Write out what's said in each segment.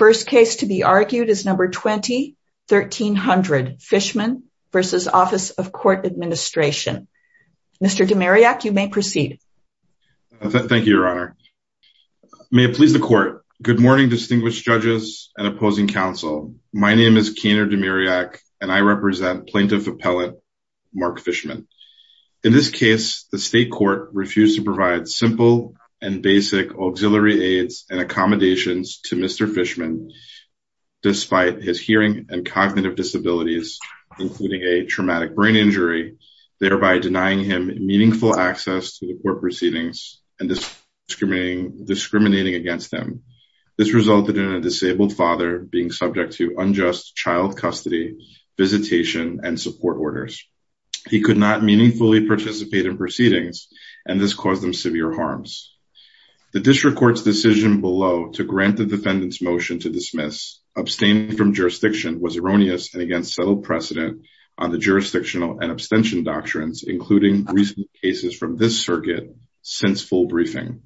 The first case to be argued is number 20-1300, Fishman v. Office of Court Administration. Mr. Demiriak, you may proceed. Thank you, Your Honor. May it please the Court. Good morning, distinguished judges and opposing counsel. My name is Keener Demiriak, and I represent Plaintiff Appellant Mark Fishman. In this case, the state court refused to provide simple and basic auxiliary aids and accommodations to Mr. Fishman, despite his hearing and cognitive disabilities, including a traumatic brain injury, thereby denying him meaningful access to the court proceedings and discriminating against him. This resulted in a disabled father being subject to unjust child custody, visitation, and support orders. He could not meaningfully participate in proceedings, and this caused him severe harms. The district court's decision below to grant the defendant's motion to dismiss, abstaining from jurisdiction, was erroneous and against settled precedent on the jurisdictional and abstention doctrines, including recent cases from this circuit since full briefing.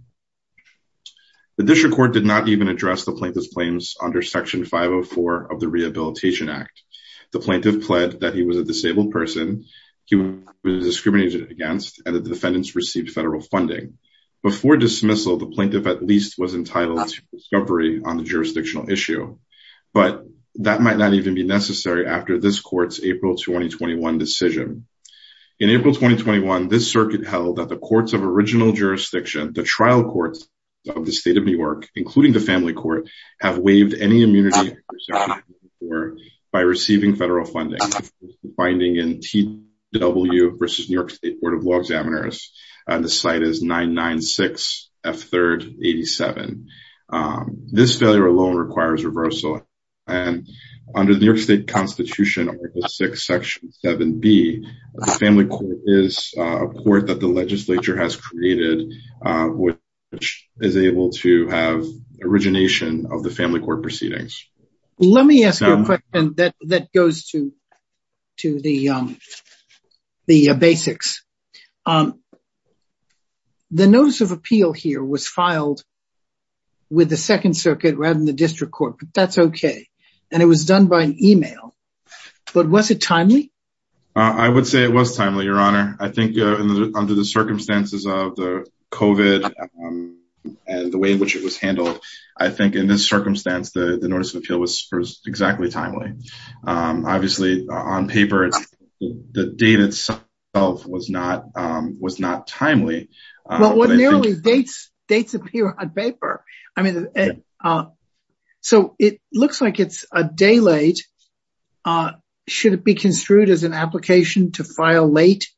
The district court did not even address the plaintiff's claims under Section 504 of the Rehabilitation Act. The plaintiff pled that he was a disabled person he was discriminated against and that the defendants received federal funding. Before dismissal, the plaintiff at least was entitled to discovery on the jurisdictional issue, but that might not even be necessary after this court's April 2021 decision. In April 2021, this circuit held that the courts of original jurisdiction, the trial courts of the state of New York, including the family court, have waived any immunity under Section 504 by receiving federal funding. This is the finding in TW versus New York State Court of Law Examiners, and the site is 996F3rd87. This failure alone requires reversal, and under the New York State Constitution Article VI, Section 7B, the family court is a court that the legislature has created, which is able to have origination of the family court proceedings. Let me ask you a question that goes to the basics. The notice of appeal here was filed with the Second Circuit rather than the district court, but that's OK. And it was done by email, but was it timely? I would say it was timely, Your Honor. I think under the circumstances of the COVID and the way in which it was handled, I think in this circumstance, the notice of appeal was exactly timely. Obviously, on paper, the date itself was not timely. Well, what nearly dates appear on paper. So it looks like it's a day late. Should it be construed as an application to file late?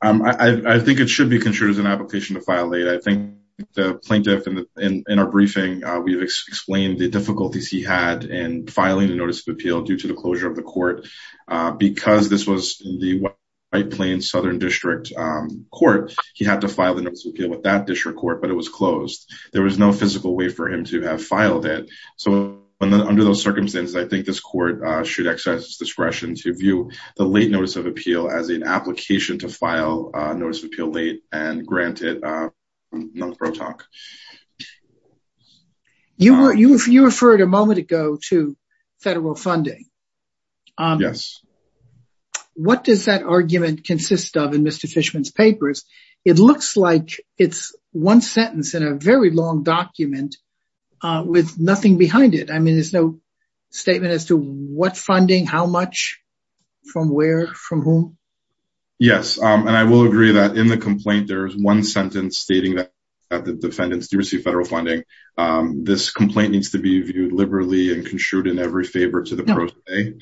I think it should be construed as an application to file late. I think the plaintiff in our briefing, we've explained the difficulties he had in filing a notice of appeal due to the closure of the court, but because this was the White Plains Southern District Court, he had to file the notice of appeal with that district court, but it was closed. There was no physical way for him to have filed it. So under those circumstances, I think this court should exercise its discretion to view the late notice of appeal as an application to file notice of appeal late and grant it non-protoct. You referred a moment ago to federal funding. Yes. What does that argument consist of in Mr. Fishman's papers? It looks like it's one sentence in a very long document with nothing behind it. I mean, there's no statement as to what funding, how much, from where, from whom. Yes, and I will agree that in the complaint, there is one sentence stating that the defendants do receive federal funding. This complaint needs to be viewed liberally and construed in every favor to the pro se.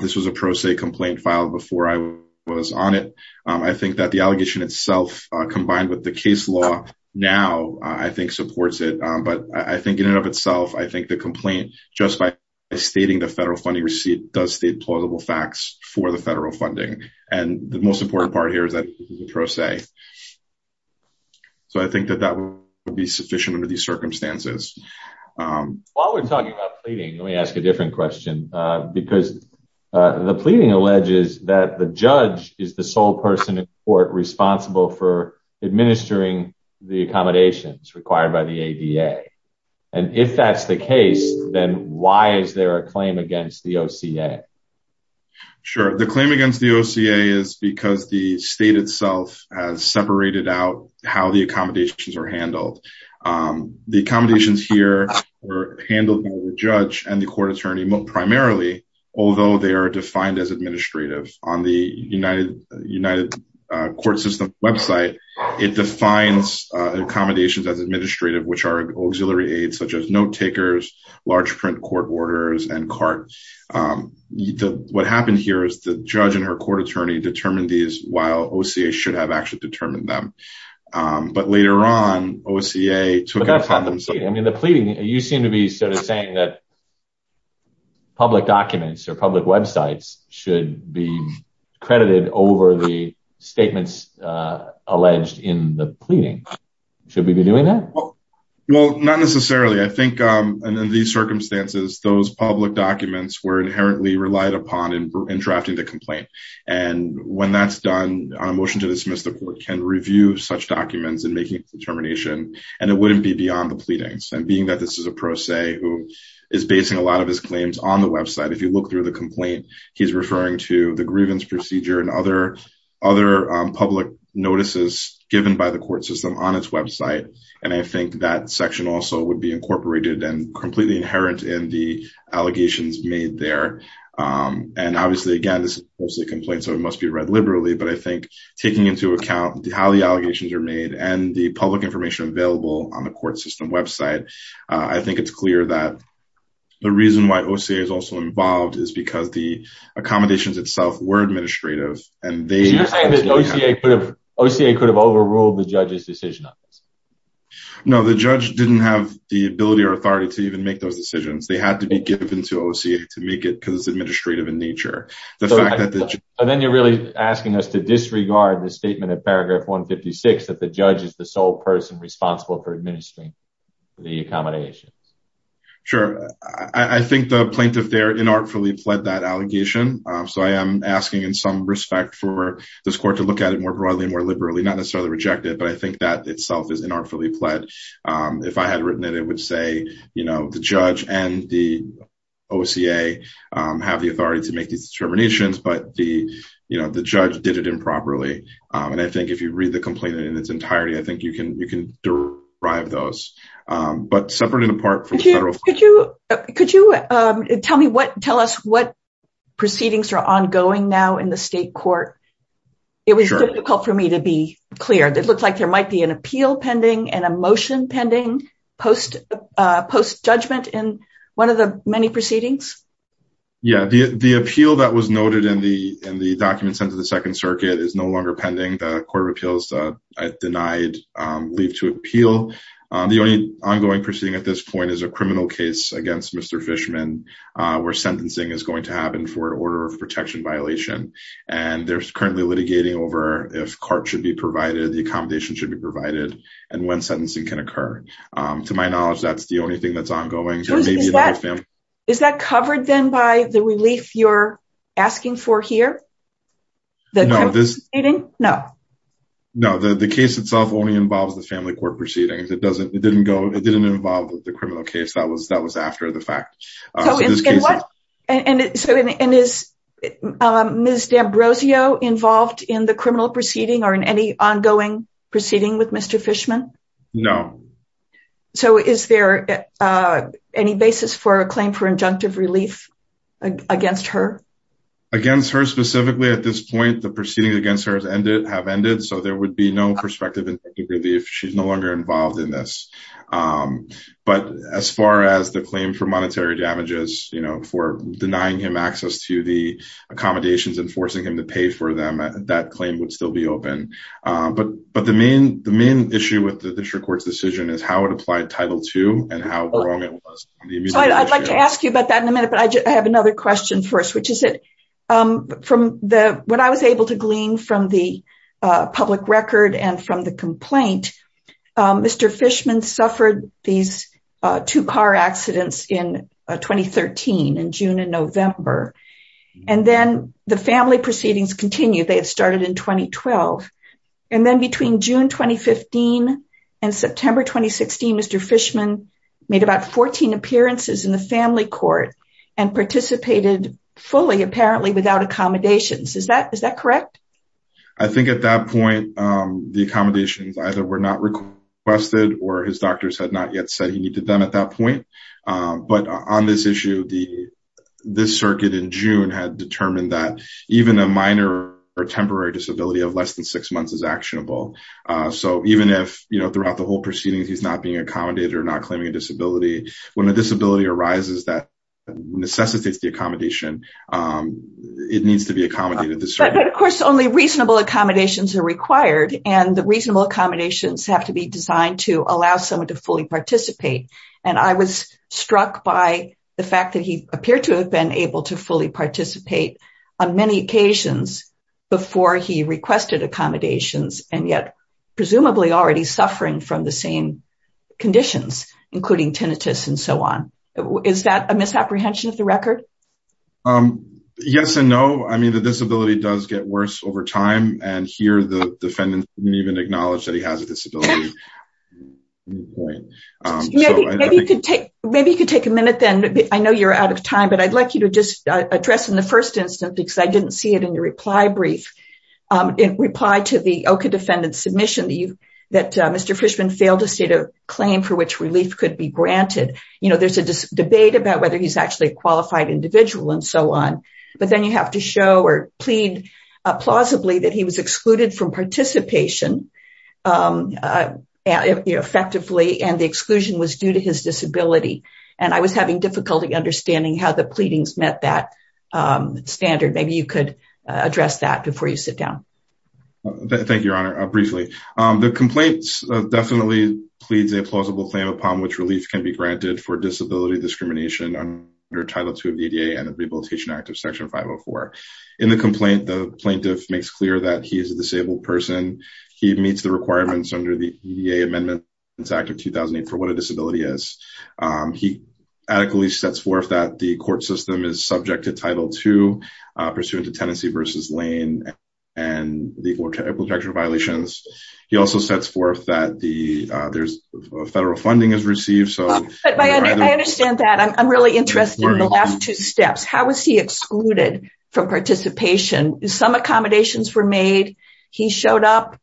This was a pro se complaint filed before I was on it. I think that the allegation itself, combined with the case law now, I think supports it. But I think in and of itself, I think the complaint, just by stating the federal funding receipt, does state plausible facts for the federal funding. And the most important part here is that it's a pro se. So I think that that would be sufficient under these circumstances. While we're talking about pleading, let me ask a different question, because the pleading alleges that the judge is the sole person in court responsible for administering the accommodations required by the ADA. And if that's the case, then why is there a claim against the OCA? Sure. The claim against the OCA is because the state itself has separated out how the accommodations are handled. The accommodations here were handled by the judge and the court attorney primarily, although they are defined as administrative. On the United Court System website, it defines accommodations as administrative, which are auxiliary aids such as note takers, large print court orders, and CART. What happened here is the judge and her court attorney determined these while OCA should have actually determined them. But later on, OCA took it upon themselves. I mean, the pleading, you seem to be sort of saying that public documents or public websites should be credited over the statements alleged in the pleading. Should we be doing that? Well, not necessarily. I think in these circumstances, those public documents were inherently relied upon in drafting the complaint. And when that's done on a motion to dismiss, the court can review such documents and make a determination. And it wouldn't be beyond the pleadings. And being that this is a pro se who is basing a lot of his claims on the website. If you look through the complaint, he's referring to the grievance procedure and other public notices given by the court system on its website. And I think that section also would be incorporated and completely inherent in the allegations made there. And obviously, again, this is mostly a complaint, so it must be read liberally. But I think taking into account how the allegations are made and the public information available on the court system website, I think it's clear that the reason why OCA is also involved is because the accommodations itself were administrative. And OCA could have overruled the judge's decision on this. No, the judge didn't have the ability or authority to even make those decisions. They had to be given to OCA to make it because it's administrative in nature. And then you're really asking us to disregard the statement in paragraph 156 that the judge is the sole person responsible for administering the accommodations. Sure. I think the plaintiff there inartfully pled that allegation. So I am asking in some respect for this court to look at it more broadly, more liberally, not necessarily reject it. But I think that itself is inartfully pled. If I had written it, it would say, you know, the judge and the OCA have the authority to make these determinations. But the you know, the judge did it improperly. And I think if you read the complaint in its entirety, I think you can you can derive those. Could you could you tell me what tell us what proceedings are ongoing now in the state court? It was difficult for me to be clear. It looks like there might be an appeal pending and a motion pending post post judgment in one of the many proceedings. Yeah, the appeal that was noted in the in the documents under the Second Circuit is no longer pending. The only ongoing proceeding at this point is a criminal case against Mr. Fishman, where sentencing is going to happen for an order of protection violation. And there's currently litigating over if court should be provided, the accommodation should be provided and when sentencing can occur. To my knowledge, that's the only thing that's ongoing. Is that covered then by the relief you're asking for here? No. No, the case itself only involves the family court proceedings. It doesn't it didn't go it didn't involve the criminal case. That was that was after the fact. And so and is Ms. D'Ambrosio involved in the criminal proceeding or in any ongoing proceeding with Mr. Fishman? No. So is there any basis for a claim for injunctive relief against her? Against her specifically at this point, the proceedings against her has ended have ended. So there would be no perspective in relief. She's no longer involved in this. But as far as the claim for monetary damages, you know, for denying him access to the accommodations and forcing him to pay for them, that claim would still be open. But but the main the main issue with the district court's decision is how it applied Title two and how wrong it was. I'd like to ask you about that in a minute, but I have another question for us, which is it from the when I was able to glean from the public record and from the complaint, Mr. Fishman suffered these two car accidents in 2013 in June and November. And then the family proceedings continued. They had started in 2012. And then between June 2015 and September 2016, Mr. Fishman made about 14 appearances in the family court and participated fully, apparently without accommodations. Is that is that correct? I think at that point, the accommodations either were not requested or his doctors had not yet said he needed them at that point. But on this issue, the this circuit in June had determined that even a minor or temporary disability of less than six months is actionable. So even if, you know, throughout the whole proceedings, he's not being accommodated or not claiming a disability, when a disability arises that necessitates the accommodation, it needs to be accommodated. Of course, only reasonable accommodations are required and the reasonable accommodations have to be designed to allow someone to fully participate. And I was struck by the fact that he appeared to have been able to fully participate on many occasions before he requested accommodations and yet presumably already suffering from the same conditions, including tinnitus and so on. Is that a misapprehension of the record? Yes and no. I mean, the disability does get worse over time. And here the defendant didn't even acknowledge that he has a disability. Maybe you could take a minute then. I know you're out of time, but I'd like you to just address in the first instance, because I didn't see it in your reply brief. In reply to the OKA defendant submission that you that Mr. Fishman failed to state a claim for which relief could be granted. You know, there's a debate about whether he's actually a qualified individual and so on. But then you have to show or plead plausibly that he was excluded from participation effectively and the exclusion was due to his disability. And I was having difficulty understanding how the pleadings met that standard. Maybe you could address that before you sit down. Thank you, Your Honor. Briefly, the complaint definitely pleads a plausible claim upon which relief can be granted for disability discrimination under Title II of the ADA and the Rehabilitation Act of Section 504. In the complaint, the plaintiff makes clear that he is a disabled person. He meets the requirements under the ADA Amendment Act of 2008 for what a disability is. He adequately sets forth that the court system is subject to Title II pursuant to Tennessee v. Lane and the equal protection violations. He also sets forth that the federal funding is received. I understand that. I'm really interested in the last two steps. How was he excluded from participation? Some accommodations were made. He showed up.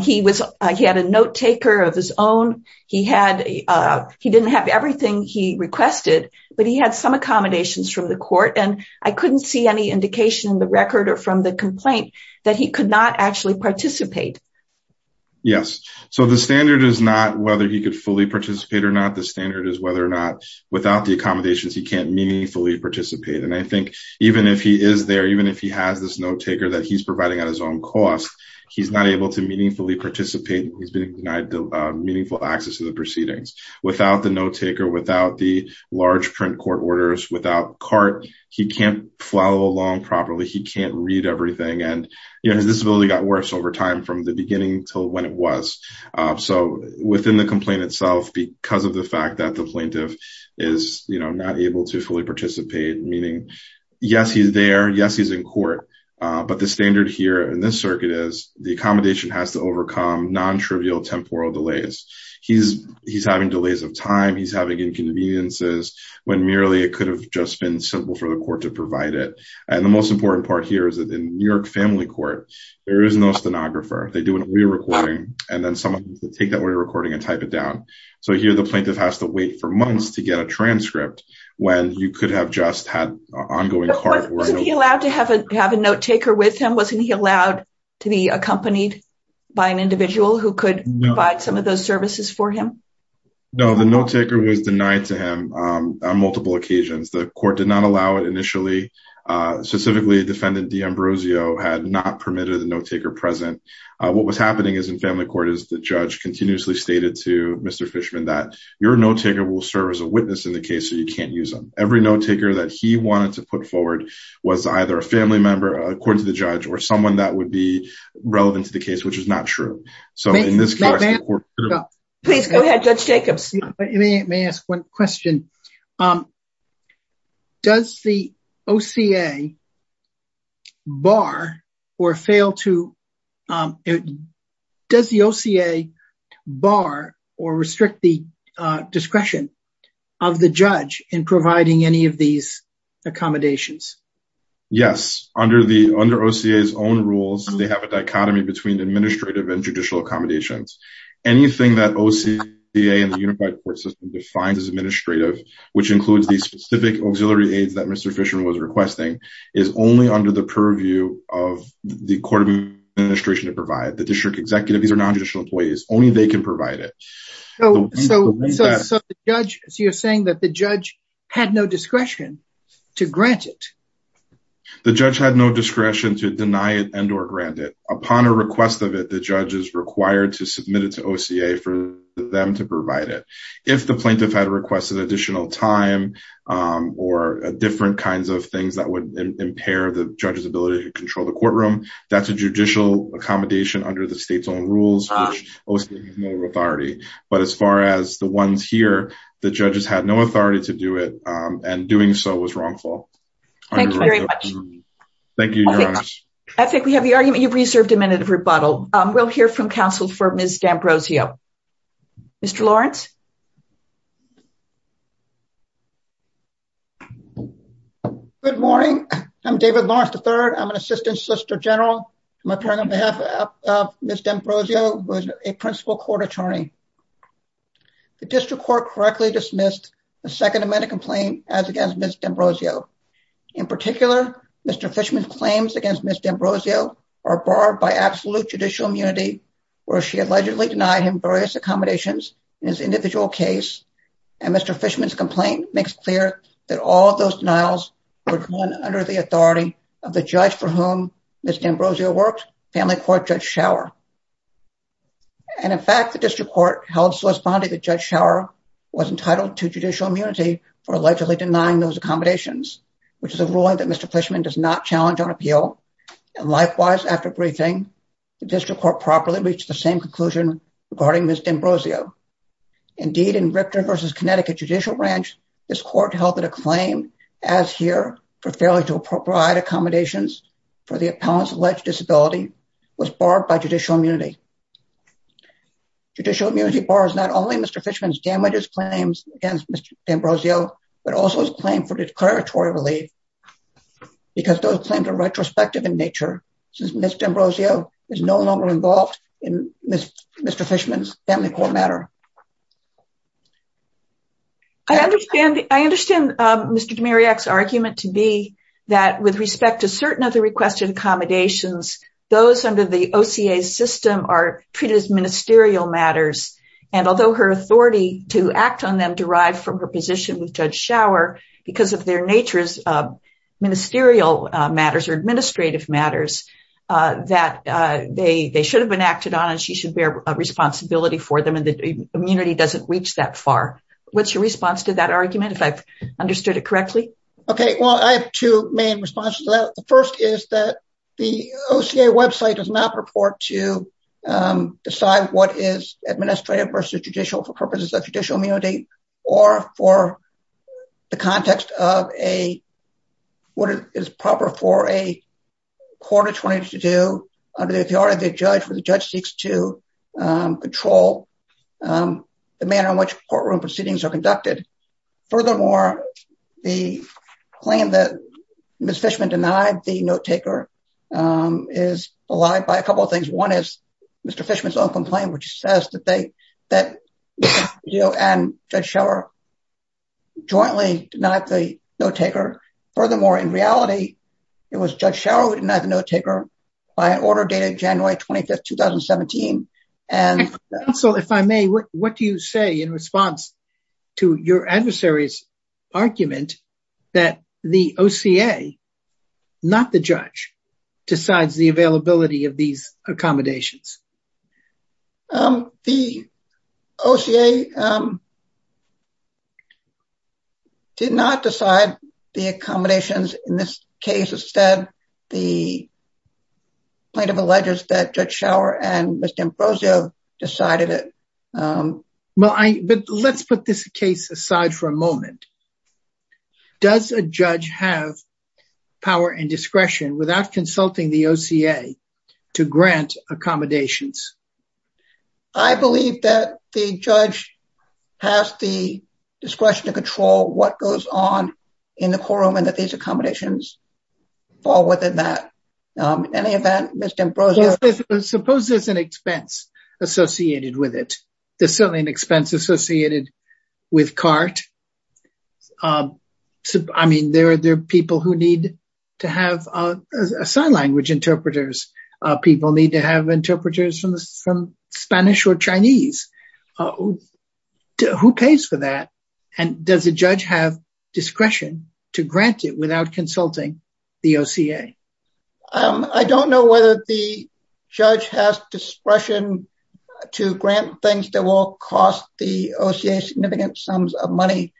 He had a note taker of his own. He didn't have everything he requested, but he had some accommodations from the court. And I couldn't see any indication in the record or from the complaint that he could not actually participate. Yes. So the standard is not whether he could fully participate or not. The standard is whether or not without the accommodations, he can't meaningfully participate. And I think even if he is there, even if he has this note taker that he's providing at his own cost, he's not able to meaningfully participate. He's been denied meaningful access to the proceedings without the note taker, without the large print court orders, without cart. He can't follow along properly. He can't read everything. And his disability got worse over time from the beginning till when it was. So within the complaint itself, because of the fact that the plaintiff is not able to fully participate, meaning, yes, he's there. Yes, he's in court. But the standard here in this circuit is the accommodation has to overcome non-trivial temporal delays. He's he's having delays of time. He's having inconveniences when merely it could have just been simple for the court to provide it. And the most important part here is that in New York Family Court, there is no stenographer. They do a re-recording and then someone will take that re-recording and type it down. So here the plaintiff has to wait for months to get a transcript when you could have just had an ongoing cart. Wasn't he allowed to have a note taker with him? Wasn't he allowed to be accompanied by an individual who could provide some of those services for him? No, the note taker was denied to him on multiple occasions. The court did not allow it initially. Specifically, defendant D'Ambrosio had not permitted the note taker present. What was happening is in family court is the judge continuously stated to Mr. Fishman that your note taker will serve as a witness in the case. So you can't use them. Every note taker that he wanted to put forward was either a family member, according to the judge, or someone that would be relevant to the case, which is not true. Please go ahead, Judge Jacobs. May I ask one question? Does the OCA bar or fail to, does the OCA bar or restrict the discretion of the judge in providing any of these accommodations? Yes, under OCA's own rules, they have a dichotomy between administrative and judicial accommodations. Anything that OCA and the unified court system defines as administrative, which includes the specific auxiliary aids that Mr. Fishman was requesting, is only under the purview of the court administration to provide. The district executive, these are non-judicial employees, only they can provide it. So you're saying that the judge had no discretion to grant it? The judge had no discretion to deny it and or grant it. Upon a request of it, the judge is required to submit it to OCA for them to provide it. If the plaintiff had requested additional time or different kinds of things that would impair the judge's ability to control the courtroom, that's a judicial accommodation under the state's own rules, which OCA has no authority. But as far as the ones here, the judges had no authority to do it and doing so was wrongful. Thank you very much. Thank you. I think we have the argument. You've reserved a minute of rebuttal. We'll hear from counsel for Ms. D'Ambrosio. Mr. Lawrence. Good morning. I'm David Lawrence III. I'm an assistant Solicitor General. I'm appearing on behalf of Ms. D'Ambrosio, who is a principal court attorney. The district court correctly dismissed the Second Amendment complaint as against Ms. D'Ambrosio. In particular, Mr. Fishman's claims against Ms. D'Ambrosio are barred by absolute judicial immunity, where she allegedly denied him various accommodations in his individual case. And Mr. Fishman's complaint makes clear that all of those denials were done under the authority of the judge for whom Ms. D'Ambrosio worked, Family Court Judge Schauer. And in fact, the district court held Solicitor General Judge Schauer was entitled to judicial immunity for allegedly denying those accommodations, which is a ruling that Mr. Fishman does not challenge on appeal. And likewise, after briefing, the district court properly reached the same conclusion regarding Ms. D'Ambrosio. Indeed, in Richter v. Connecticut Judicial Branch, this court held that a claim, as here, for failure to provide accommodations for the appellant's alleged disability was barred by judicial immunity. Judicial immunity bars not only Mr. Fishman's damages claims against Ms. D'Ambrosio, but also his claim for declaratory relief, because those claims are retrospective in nature. Since Ms. D'Ambrosio is no longer involved in Mr. Fishman's Family Court matter. I understand, I understand Mr. Dimirak's argument to be that with respect to certain of the requested accommodations, those under the OCA system are treated as ministerial matters. And although her authority to act on them derived from her position with Judge Schauer, because of their nature as ministerial matters or administrative matters, that they should have been acted on and she should bear responsibility for them and the immunity doesn't reach that far. What's your response to that argument, if I've understood it correctly? Okay, well I have two main responses to that. The first is that the OCA website does not purport to decide what is administrative versus judicial for purposes of judicial immunity, or for the context of a, what is proper for a court attorney to do under the authority of the judge when the judge seeks to control the manner in which courtroom proceedings are conducted. Furthermore, the claim that Ms. Fishman denied the note-taker is allied by a couple of things. One is Mr. Fishman's own complaint, which says that they, that you and Judge Schauer jointly denied the note-taker. Furthermore, in reality, it was Judge Schauer who denied the note-taker by an order dated January 25th, 2017. Counsel, if I may, what do you say in response to your adversary's argument that the OCA, not the judge, decides the availability of these accommodations? The OCA did not decide the accommodations in this case. Instead, the plaintiff alleges that Judge Schauer and Ms. D'Ambrosio decided it. But let's put this case aside for a moment. Does a judge have power and discretion without consulting the OCA to grant accommodations? I believe that the judge has the discretion to control what goes on in the courtroom and that these accommodations fall within that. In any event, Ms. D'Ambrosio Suppose there's an expense associated with it. There's certainly an expense associated with CART. I mean, there are people who need to have sign language interpreters. People need to have interpreters from Spanish or Chinese. Who pays for that? And does a judge have discretion to grant it without consulting the OCA? I don't know whether the judge has discretion to grant things that will cost the OCA significant sums of money.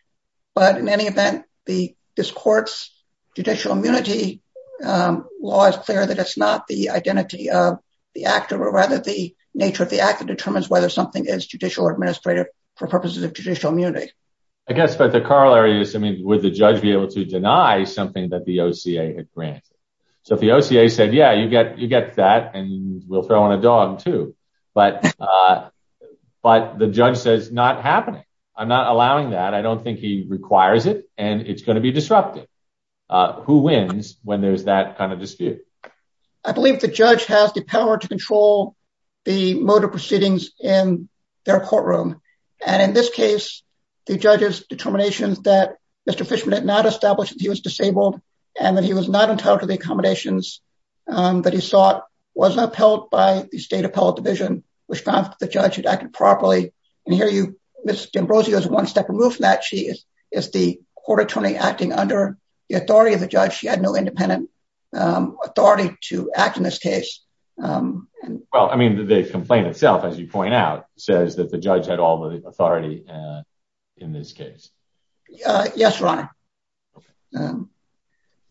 But in any event, this court's judicial immunity law is clear that it's not the identity of the actor, but rather the nature of the actor determines whether something is judicial or administrative for purposes of judicial immunity. I guess, but the corollary is, I mean, would the judge be able to deny something that the OCA had granted? So if the OCA said, yeah, you get that and we'll throw in a dog too. But the judge says not happening. I'm not allowing that. I don't think he requires it. And it's going to be disruptive. Who wins when there's that kind of dispute? I believe the judge has the power to control the mode of proceedings in their courtroom. And in this case, the judge's determinations that Mr. Fishman had not established that he was disabled and that he was not entitled to the accommodations that he sought was upheld by the State Appellate Division, which found that the judge had acted properly. And here you, Ms. D'Ambrosio is one step removed from that. She is the court attorney acting under the authority of the judge. She had no independent authority to act in this case. Well, I mean, the complaint itself, as you point out, says that the judge had all the authority in this case. Yes, Your Honor.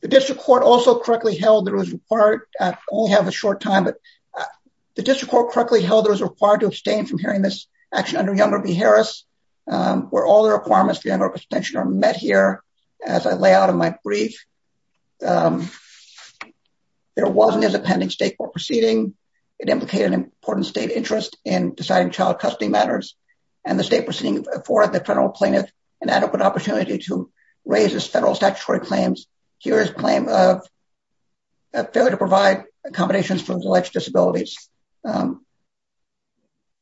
The district court also correctly held that it was required, I only have a short time, but the district court correctly held that it was required to abstain from hearing this action under Younger v. Harris, where all the requirements for Younger abstention are met here as I lay out in my brief. There wasn't as a pending state court proceeding. It implicated an important state interest in deciding child custody matters and the state proceeding afford the federal plaintiff an adequate opportunity to raise this federal statutory claims. Here is a claim of failure to provide accommodations for alleged disabilities.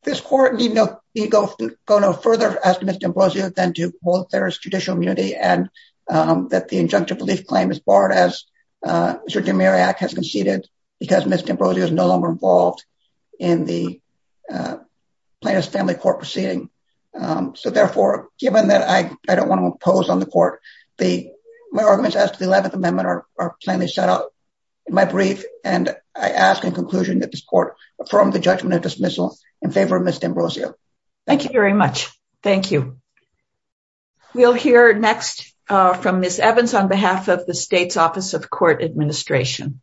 This court need not go no further as to Ms. D'Ambrosio than to hold that there is judicial immunity and that the injunctive relief claim is barred as Mr. Demiriak has conceded because Ms. D'Ambrosio is no longer involved in the Plaintiff's Family Court proceeding. So, therefore, given that I don't want to impose on the court, my arguments as to the 11th Amendment are plainly set out in my brief, and I ask in conclusion that this court affirm the judgment of dismissal in favor of Ms. D'Ambrosio. Thank you very much. Thank you. We'll hear next from Ms. Evans on behalf of the state's Office of Court Administration.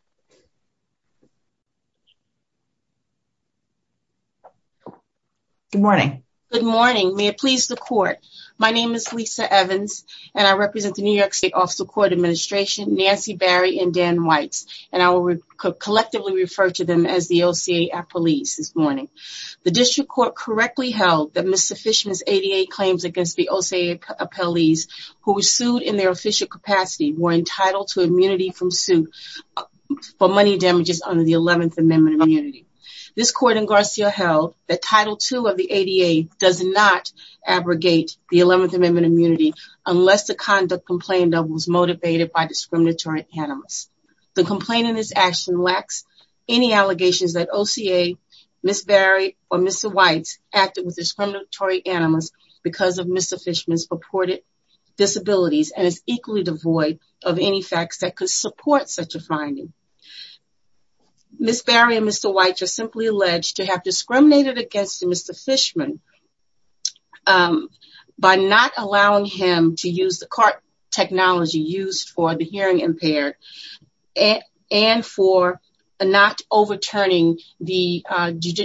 Good morning. Good morning. May it please the court. My name is Lisa Evans, and I represent the New York State Office of Court Administration, Nancy Barry and Dan Weitz, and I will collectively refer to them as the OCA appellees this morning. The district court correctly held that Ms. Fishman's ADA claims against the OCA appellees who were sued in their official capacity were entitled to immunity from suit for money damages under the 11th Amendment immunity. This court in Garcia held that Title II of the ADA does not abrogate the 11th Amendment immunity unless the conduct complained of was motivated by discriminatory cannabis. The complaint in this action lacks any allegations that OCA, Ms. Barry, or Mr. Weitz acted with discriminatory animals because of Mr. Fishman's purported disabilities and is equally devoid of any facts that could support such a finding. Ms. Barry and Mr. Weitz are simply alleged to have discriminated against Mr. Fishman by not allowing him to use the cart technology used for the hearing impaired and for not overturning the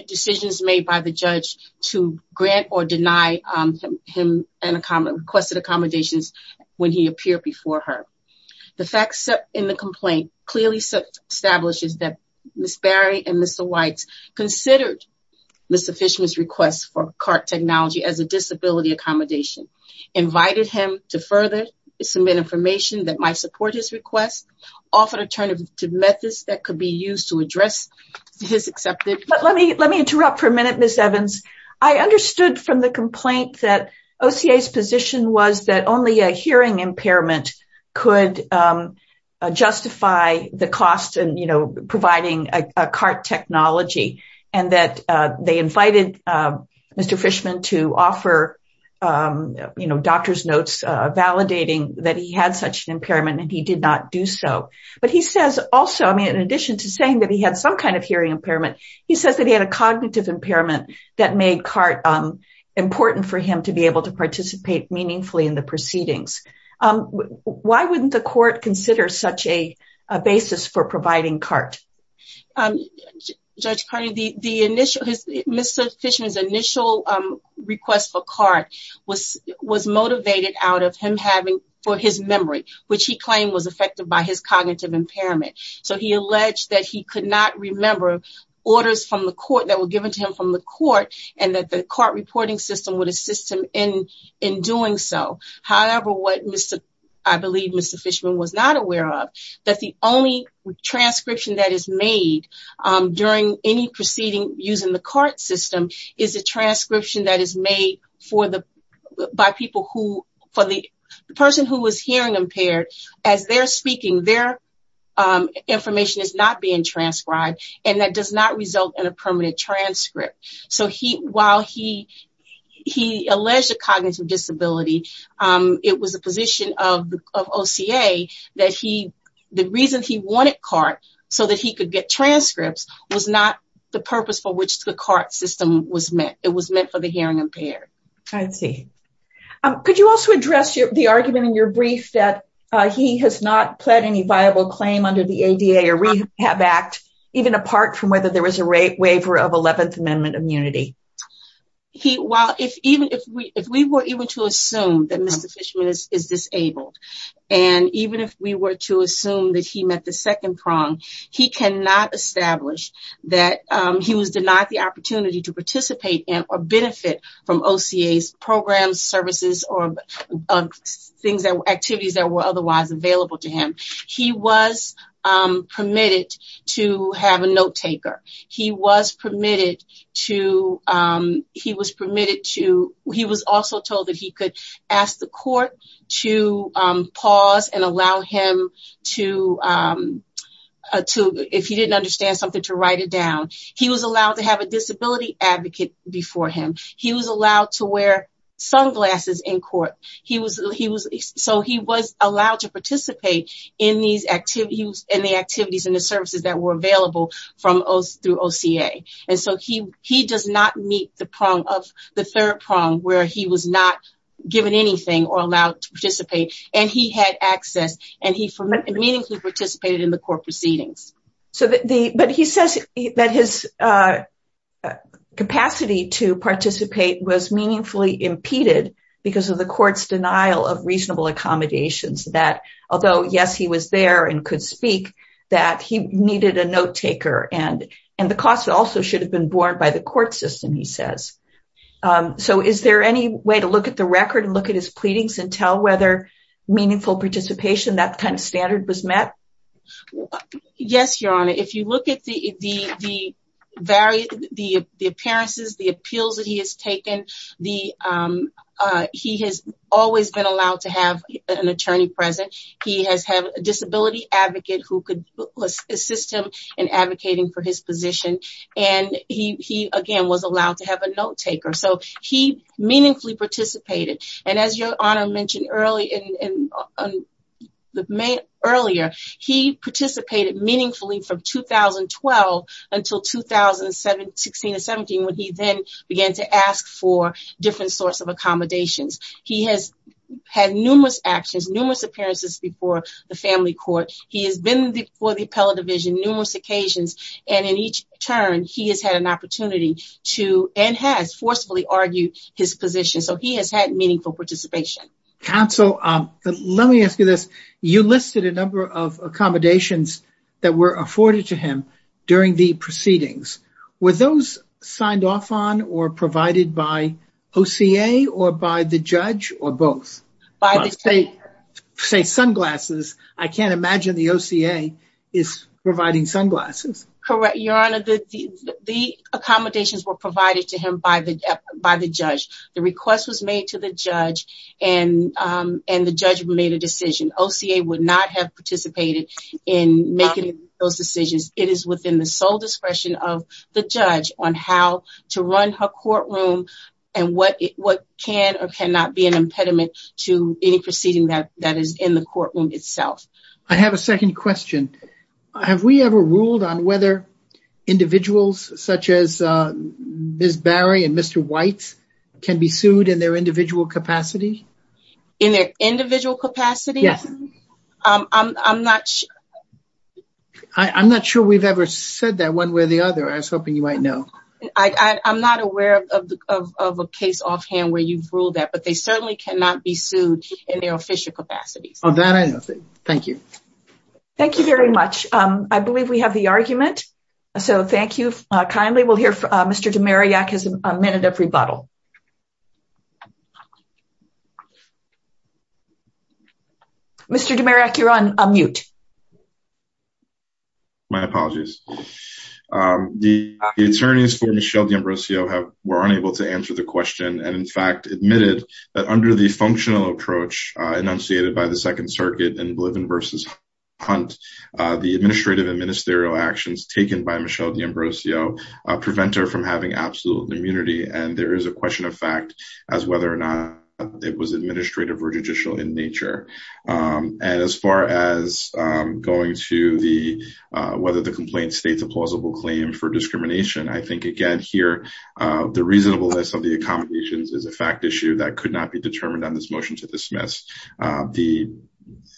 decisions made by the judge to grant or deny him requested accommodations when he appeared before her. The facts in the complaint clearly establishes that Ms. Barry and Mr. Weitz considered Mr. Fishman's request for cart technology as a disability accommodation, invited him to further submit information that might support his request, offered alternative methods that could be used to address his acceptance. But let me let me interrupt for a minute, Ms. Evans. I understood from the complaint that OCA's position was that only a hearing impairment could justify the cost and, you know, providing a cart technology and that they invited Mr. Fishman to offer, you know, doctor's notes validating that he had such an impairment and he did not do so. But he says also, I mean, in addition to saying that he had some kind of hearing impairment, he says that he had a cognitive impairment that made cart important for him to be able to participate meaningfully in the proceedings. Why wouldn't the court consider such a basis for providing cart? Judge Carney, Mr. Fishman's initial request for cart was motivated out of him having for his memory, which he claimed was affected by his cognitive impairment. So he alleged that he could not remember orders from the court that were given to him from the court and that the cart reporting system would assist him in in doing so. However, what Mr. I believe Mr. Fishman was not aware of that the only transcription that is made during any proceeding using the cart system is a transcription that is made for the by people who for the person who was hearing impaired as they're speaking. Their information is not being transcribed and that does not result in a permanent transcript. So he while he he alleged a cognitive disability. It was a position of OCA that he the reason he wanted cart so that he could get transcripts was not the purpose for which the cart system was meant. It was meant for the hearing impaired. Could you also address the argument in your brief that he has not pled any viable claim under the ADA or rehab act, even apart from whether there was a rate waiver of 11th Amendment immunity. Well, if even if we if we were even to assume that Mr. Fishman is disabled, and even if we were to assume that he met the second prong, he cannot establish that he was denied the opportunity to participate in or benefit from OCA's programs, services or things that activities that were otherwise available to him. He was permitted to have a note taker. He was permitted to he was permitted to he was also told that he could ask the court to pause and allow him to to if he didn't understand something to write it down. He was allowed to have a disability advocate before him. He was allowed to wear sunglasses in court. He was he was so he was allowed to participate in these activities and the activities and the services that were available from us through OCA. And so he he does not meet the prong of the third prong where he was not given anything or allowed to participate. And he had access and he meaningfully participated in the court proceedings. So the but he says that his capacity to participate was meaningfully impeded because of the court's denial of reasonable accommodations that although yes, he was there and could speak that he needed a note taker and and the cost also should have been borne by the court system, he says. So is there any way to look at the record and look at his pleadings and tell whether meaningful participation that kind of standard was met? Yes, Your Honor. If you look at the the various the appearances, the appeals that he has taken, the he has always been allowed to have an attorney present. He has had a disability advocate who could assist him in advocating for his position. And he again was allowed to have a note taker. So he meaningfully participated. And as Your Honor mentioned earlier, he participated meaningfully from 2012 until 2016 and 17, when he then began to ask for different sorts of accommodations. He has had numerous actions, numerous appearances before the family court. He has been before the appellate division numerous occasions. And in each turn, he has had an opportunity to and has forcefully argued his position. So he has had meaningful participation. Counsel, let me ask you this. You listed a number of accommodations that were afforded to him during the proceedings. Were those signed off on or provided by OCA or by the judge or both? Say sunglasses. I can't imagine the OCA is providing sunglasses. Correct, Your Honor. The accommodations were provided to him by the by the judge. The request was made to the judge and and the judge made a decision. OCA would not have participated in making those decisions. It is within the sole discretion of the judge on how to run her courtroom and what what can or cannot be an impediment to any proceeding that that is in the courtroom itself. I have a second question. Have we ever ruled on whether individuals such as Miss Barry and Mr. White can be sued in their individual capacity in their individual capacity? Yes. I'm not sure. I'm not sure we've ever said that one way or the other. I was hoping you might know. I'm not aware of a case offhand where you've ruled that, but they certainly cannot be sued in their official capacity. Oh, that I know. Thank you. Thank you very much. I believe we have the argument. So thank you kindly. We'll hear from Mr. DeMariac has a minute of rebuttal. Mr. DeMariac, you're on mute. My apologies. The attorneys for Michelle DeAmbrosio have were unable to answer the question and in fact admitted that under the functional approach enunciated by the Second Circuit and Bliven versus Hunt, the administrative and ministerial actions taken by Michelle DeAmbrosio prevent her from having absolute immunity. And there is a question of fact as whether or not it was administrative or judicial in nature. And as far as going to the whether the complaint states a plausible claim for discrimination. I think, again, here, the reasonableness of the accommodations is a fact issue that could not be determined on this motion to dismiss.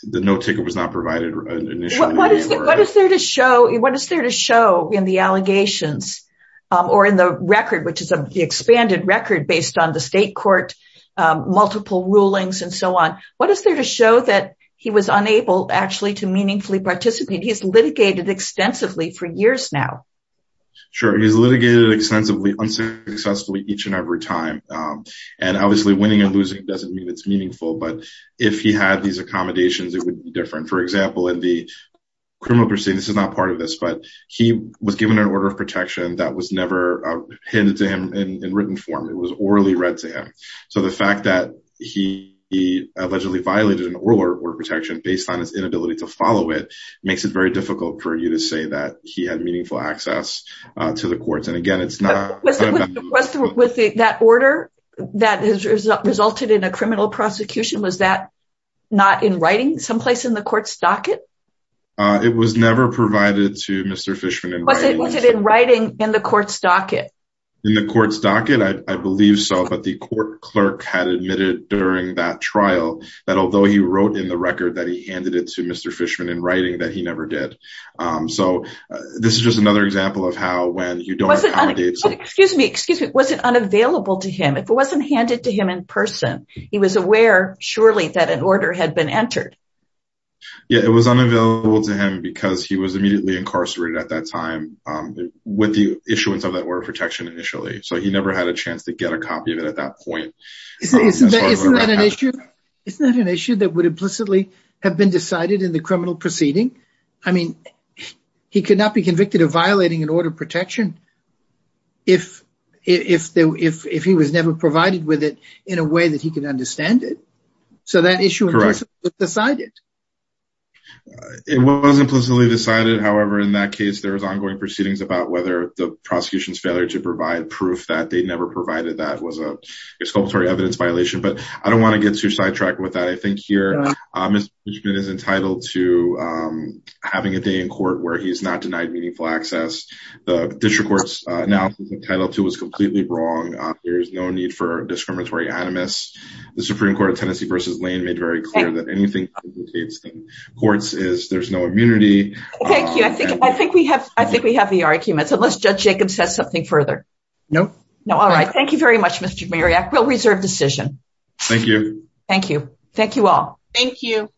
The no ticket was not provided. What is there to show? What is there to show in the allegations or in the record, which is the expanded record based on the state court, multiple rulings and so on? What is there to show that he was unable actually to meaningfully participate? He's litigated extensively for years now. Sure. He's litigated extensively unsuccessfully each and every time. And obviously, winning and losing doesn't mean it's meaningful. But if he had these accommodations, it would be different. For example, in the criminal proceeding, this is not part of this, but he was given an order of protection that was never handed to him in written form. It was orally read to him. So the fact that he allegedly violated an oral order of protection based on his inability to follow it makes it very difficult for you to say that he had meaningful access to the courts. And again, it's not with that order that has resulted in a criminal prosecution. Was that not in writing someplace in the court's docket? It was never provided to Mr. Fishman in writing in the court's docket in the court's docket. I believe so. But the court clerk had admitted during that trial that although he wrote in the record that he handed it to Mr. Fishman in writing that he never did. So this is just another example of how when you don't. Excuse me. Excuse me. Was it unavailable to him if it wasn't handed to him in person? He was aware, surely, that an order had been entered. Yeah, it was unavailable to him because he was immediately incarcerated at that time with the issuance of that order of protection initially. So he never had a chance to get a copy of it at that point. Isn't that an issue? Isn't that an issue that would implicitly have been decided in the criminal proceeding? I mean, he could not be convicted of violating an order of protection. If if if if he was never provided with it in a way that he could understand it. So that issue was decided. It was implicitly decided. However, in that case, there was ongoing proceedings about whether the prosecution's failure to provide proof that they'd never provided that was a sculptor evidence violation. But I don't want to get too sidetracked with that. I think here is entitled to having a day in court where he's not denied meaningful access. The district courts now entitled to was completely wrong. There is no need for discriminatory animus. The Supreme Court of Tennessee versus Lane made very clear that anything in courts is there's no immunity. Thank you. I think I think we have I think we have the arguments. Unless Judge Jacobs says something further. No, no. All right. Thank you very much, Mr. Marriott. We'll reserve decision. Thank you. Thank you. Thank you all. Thank you.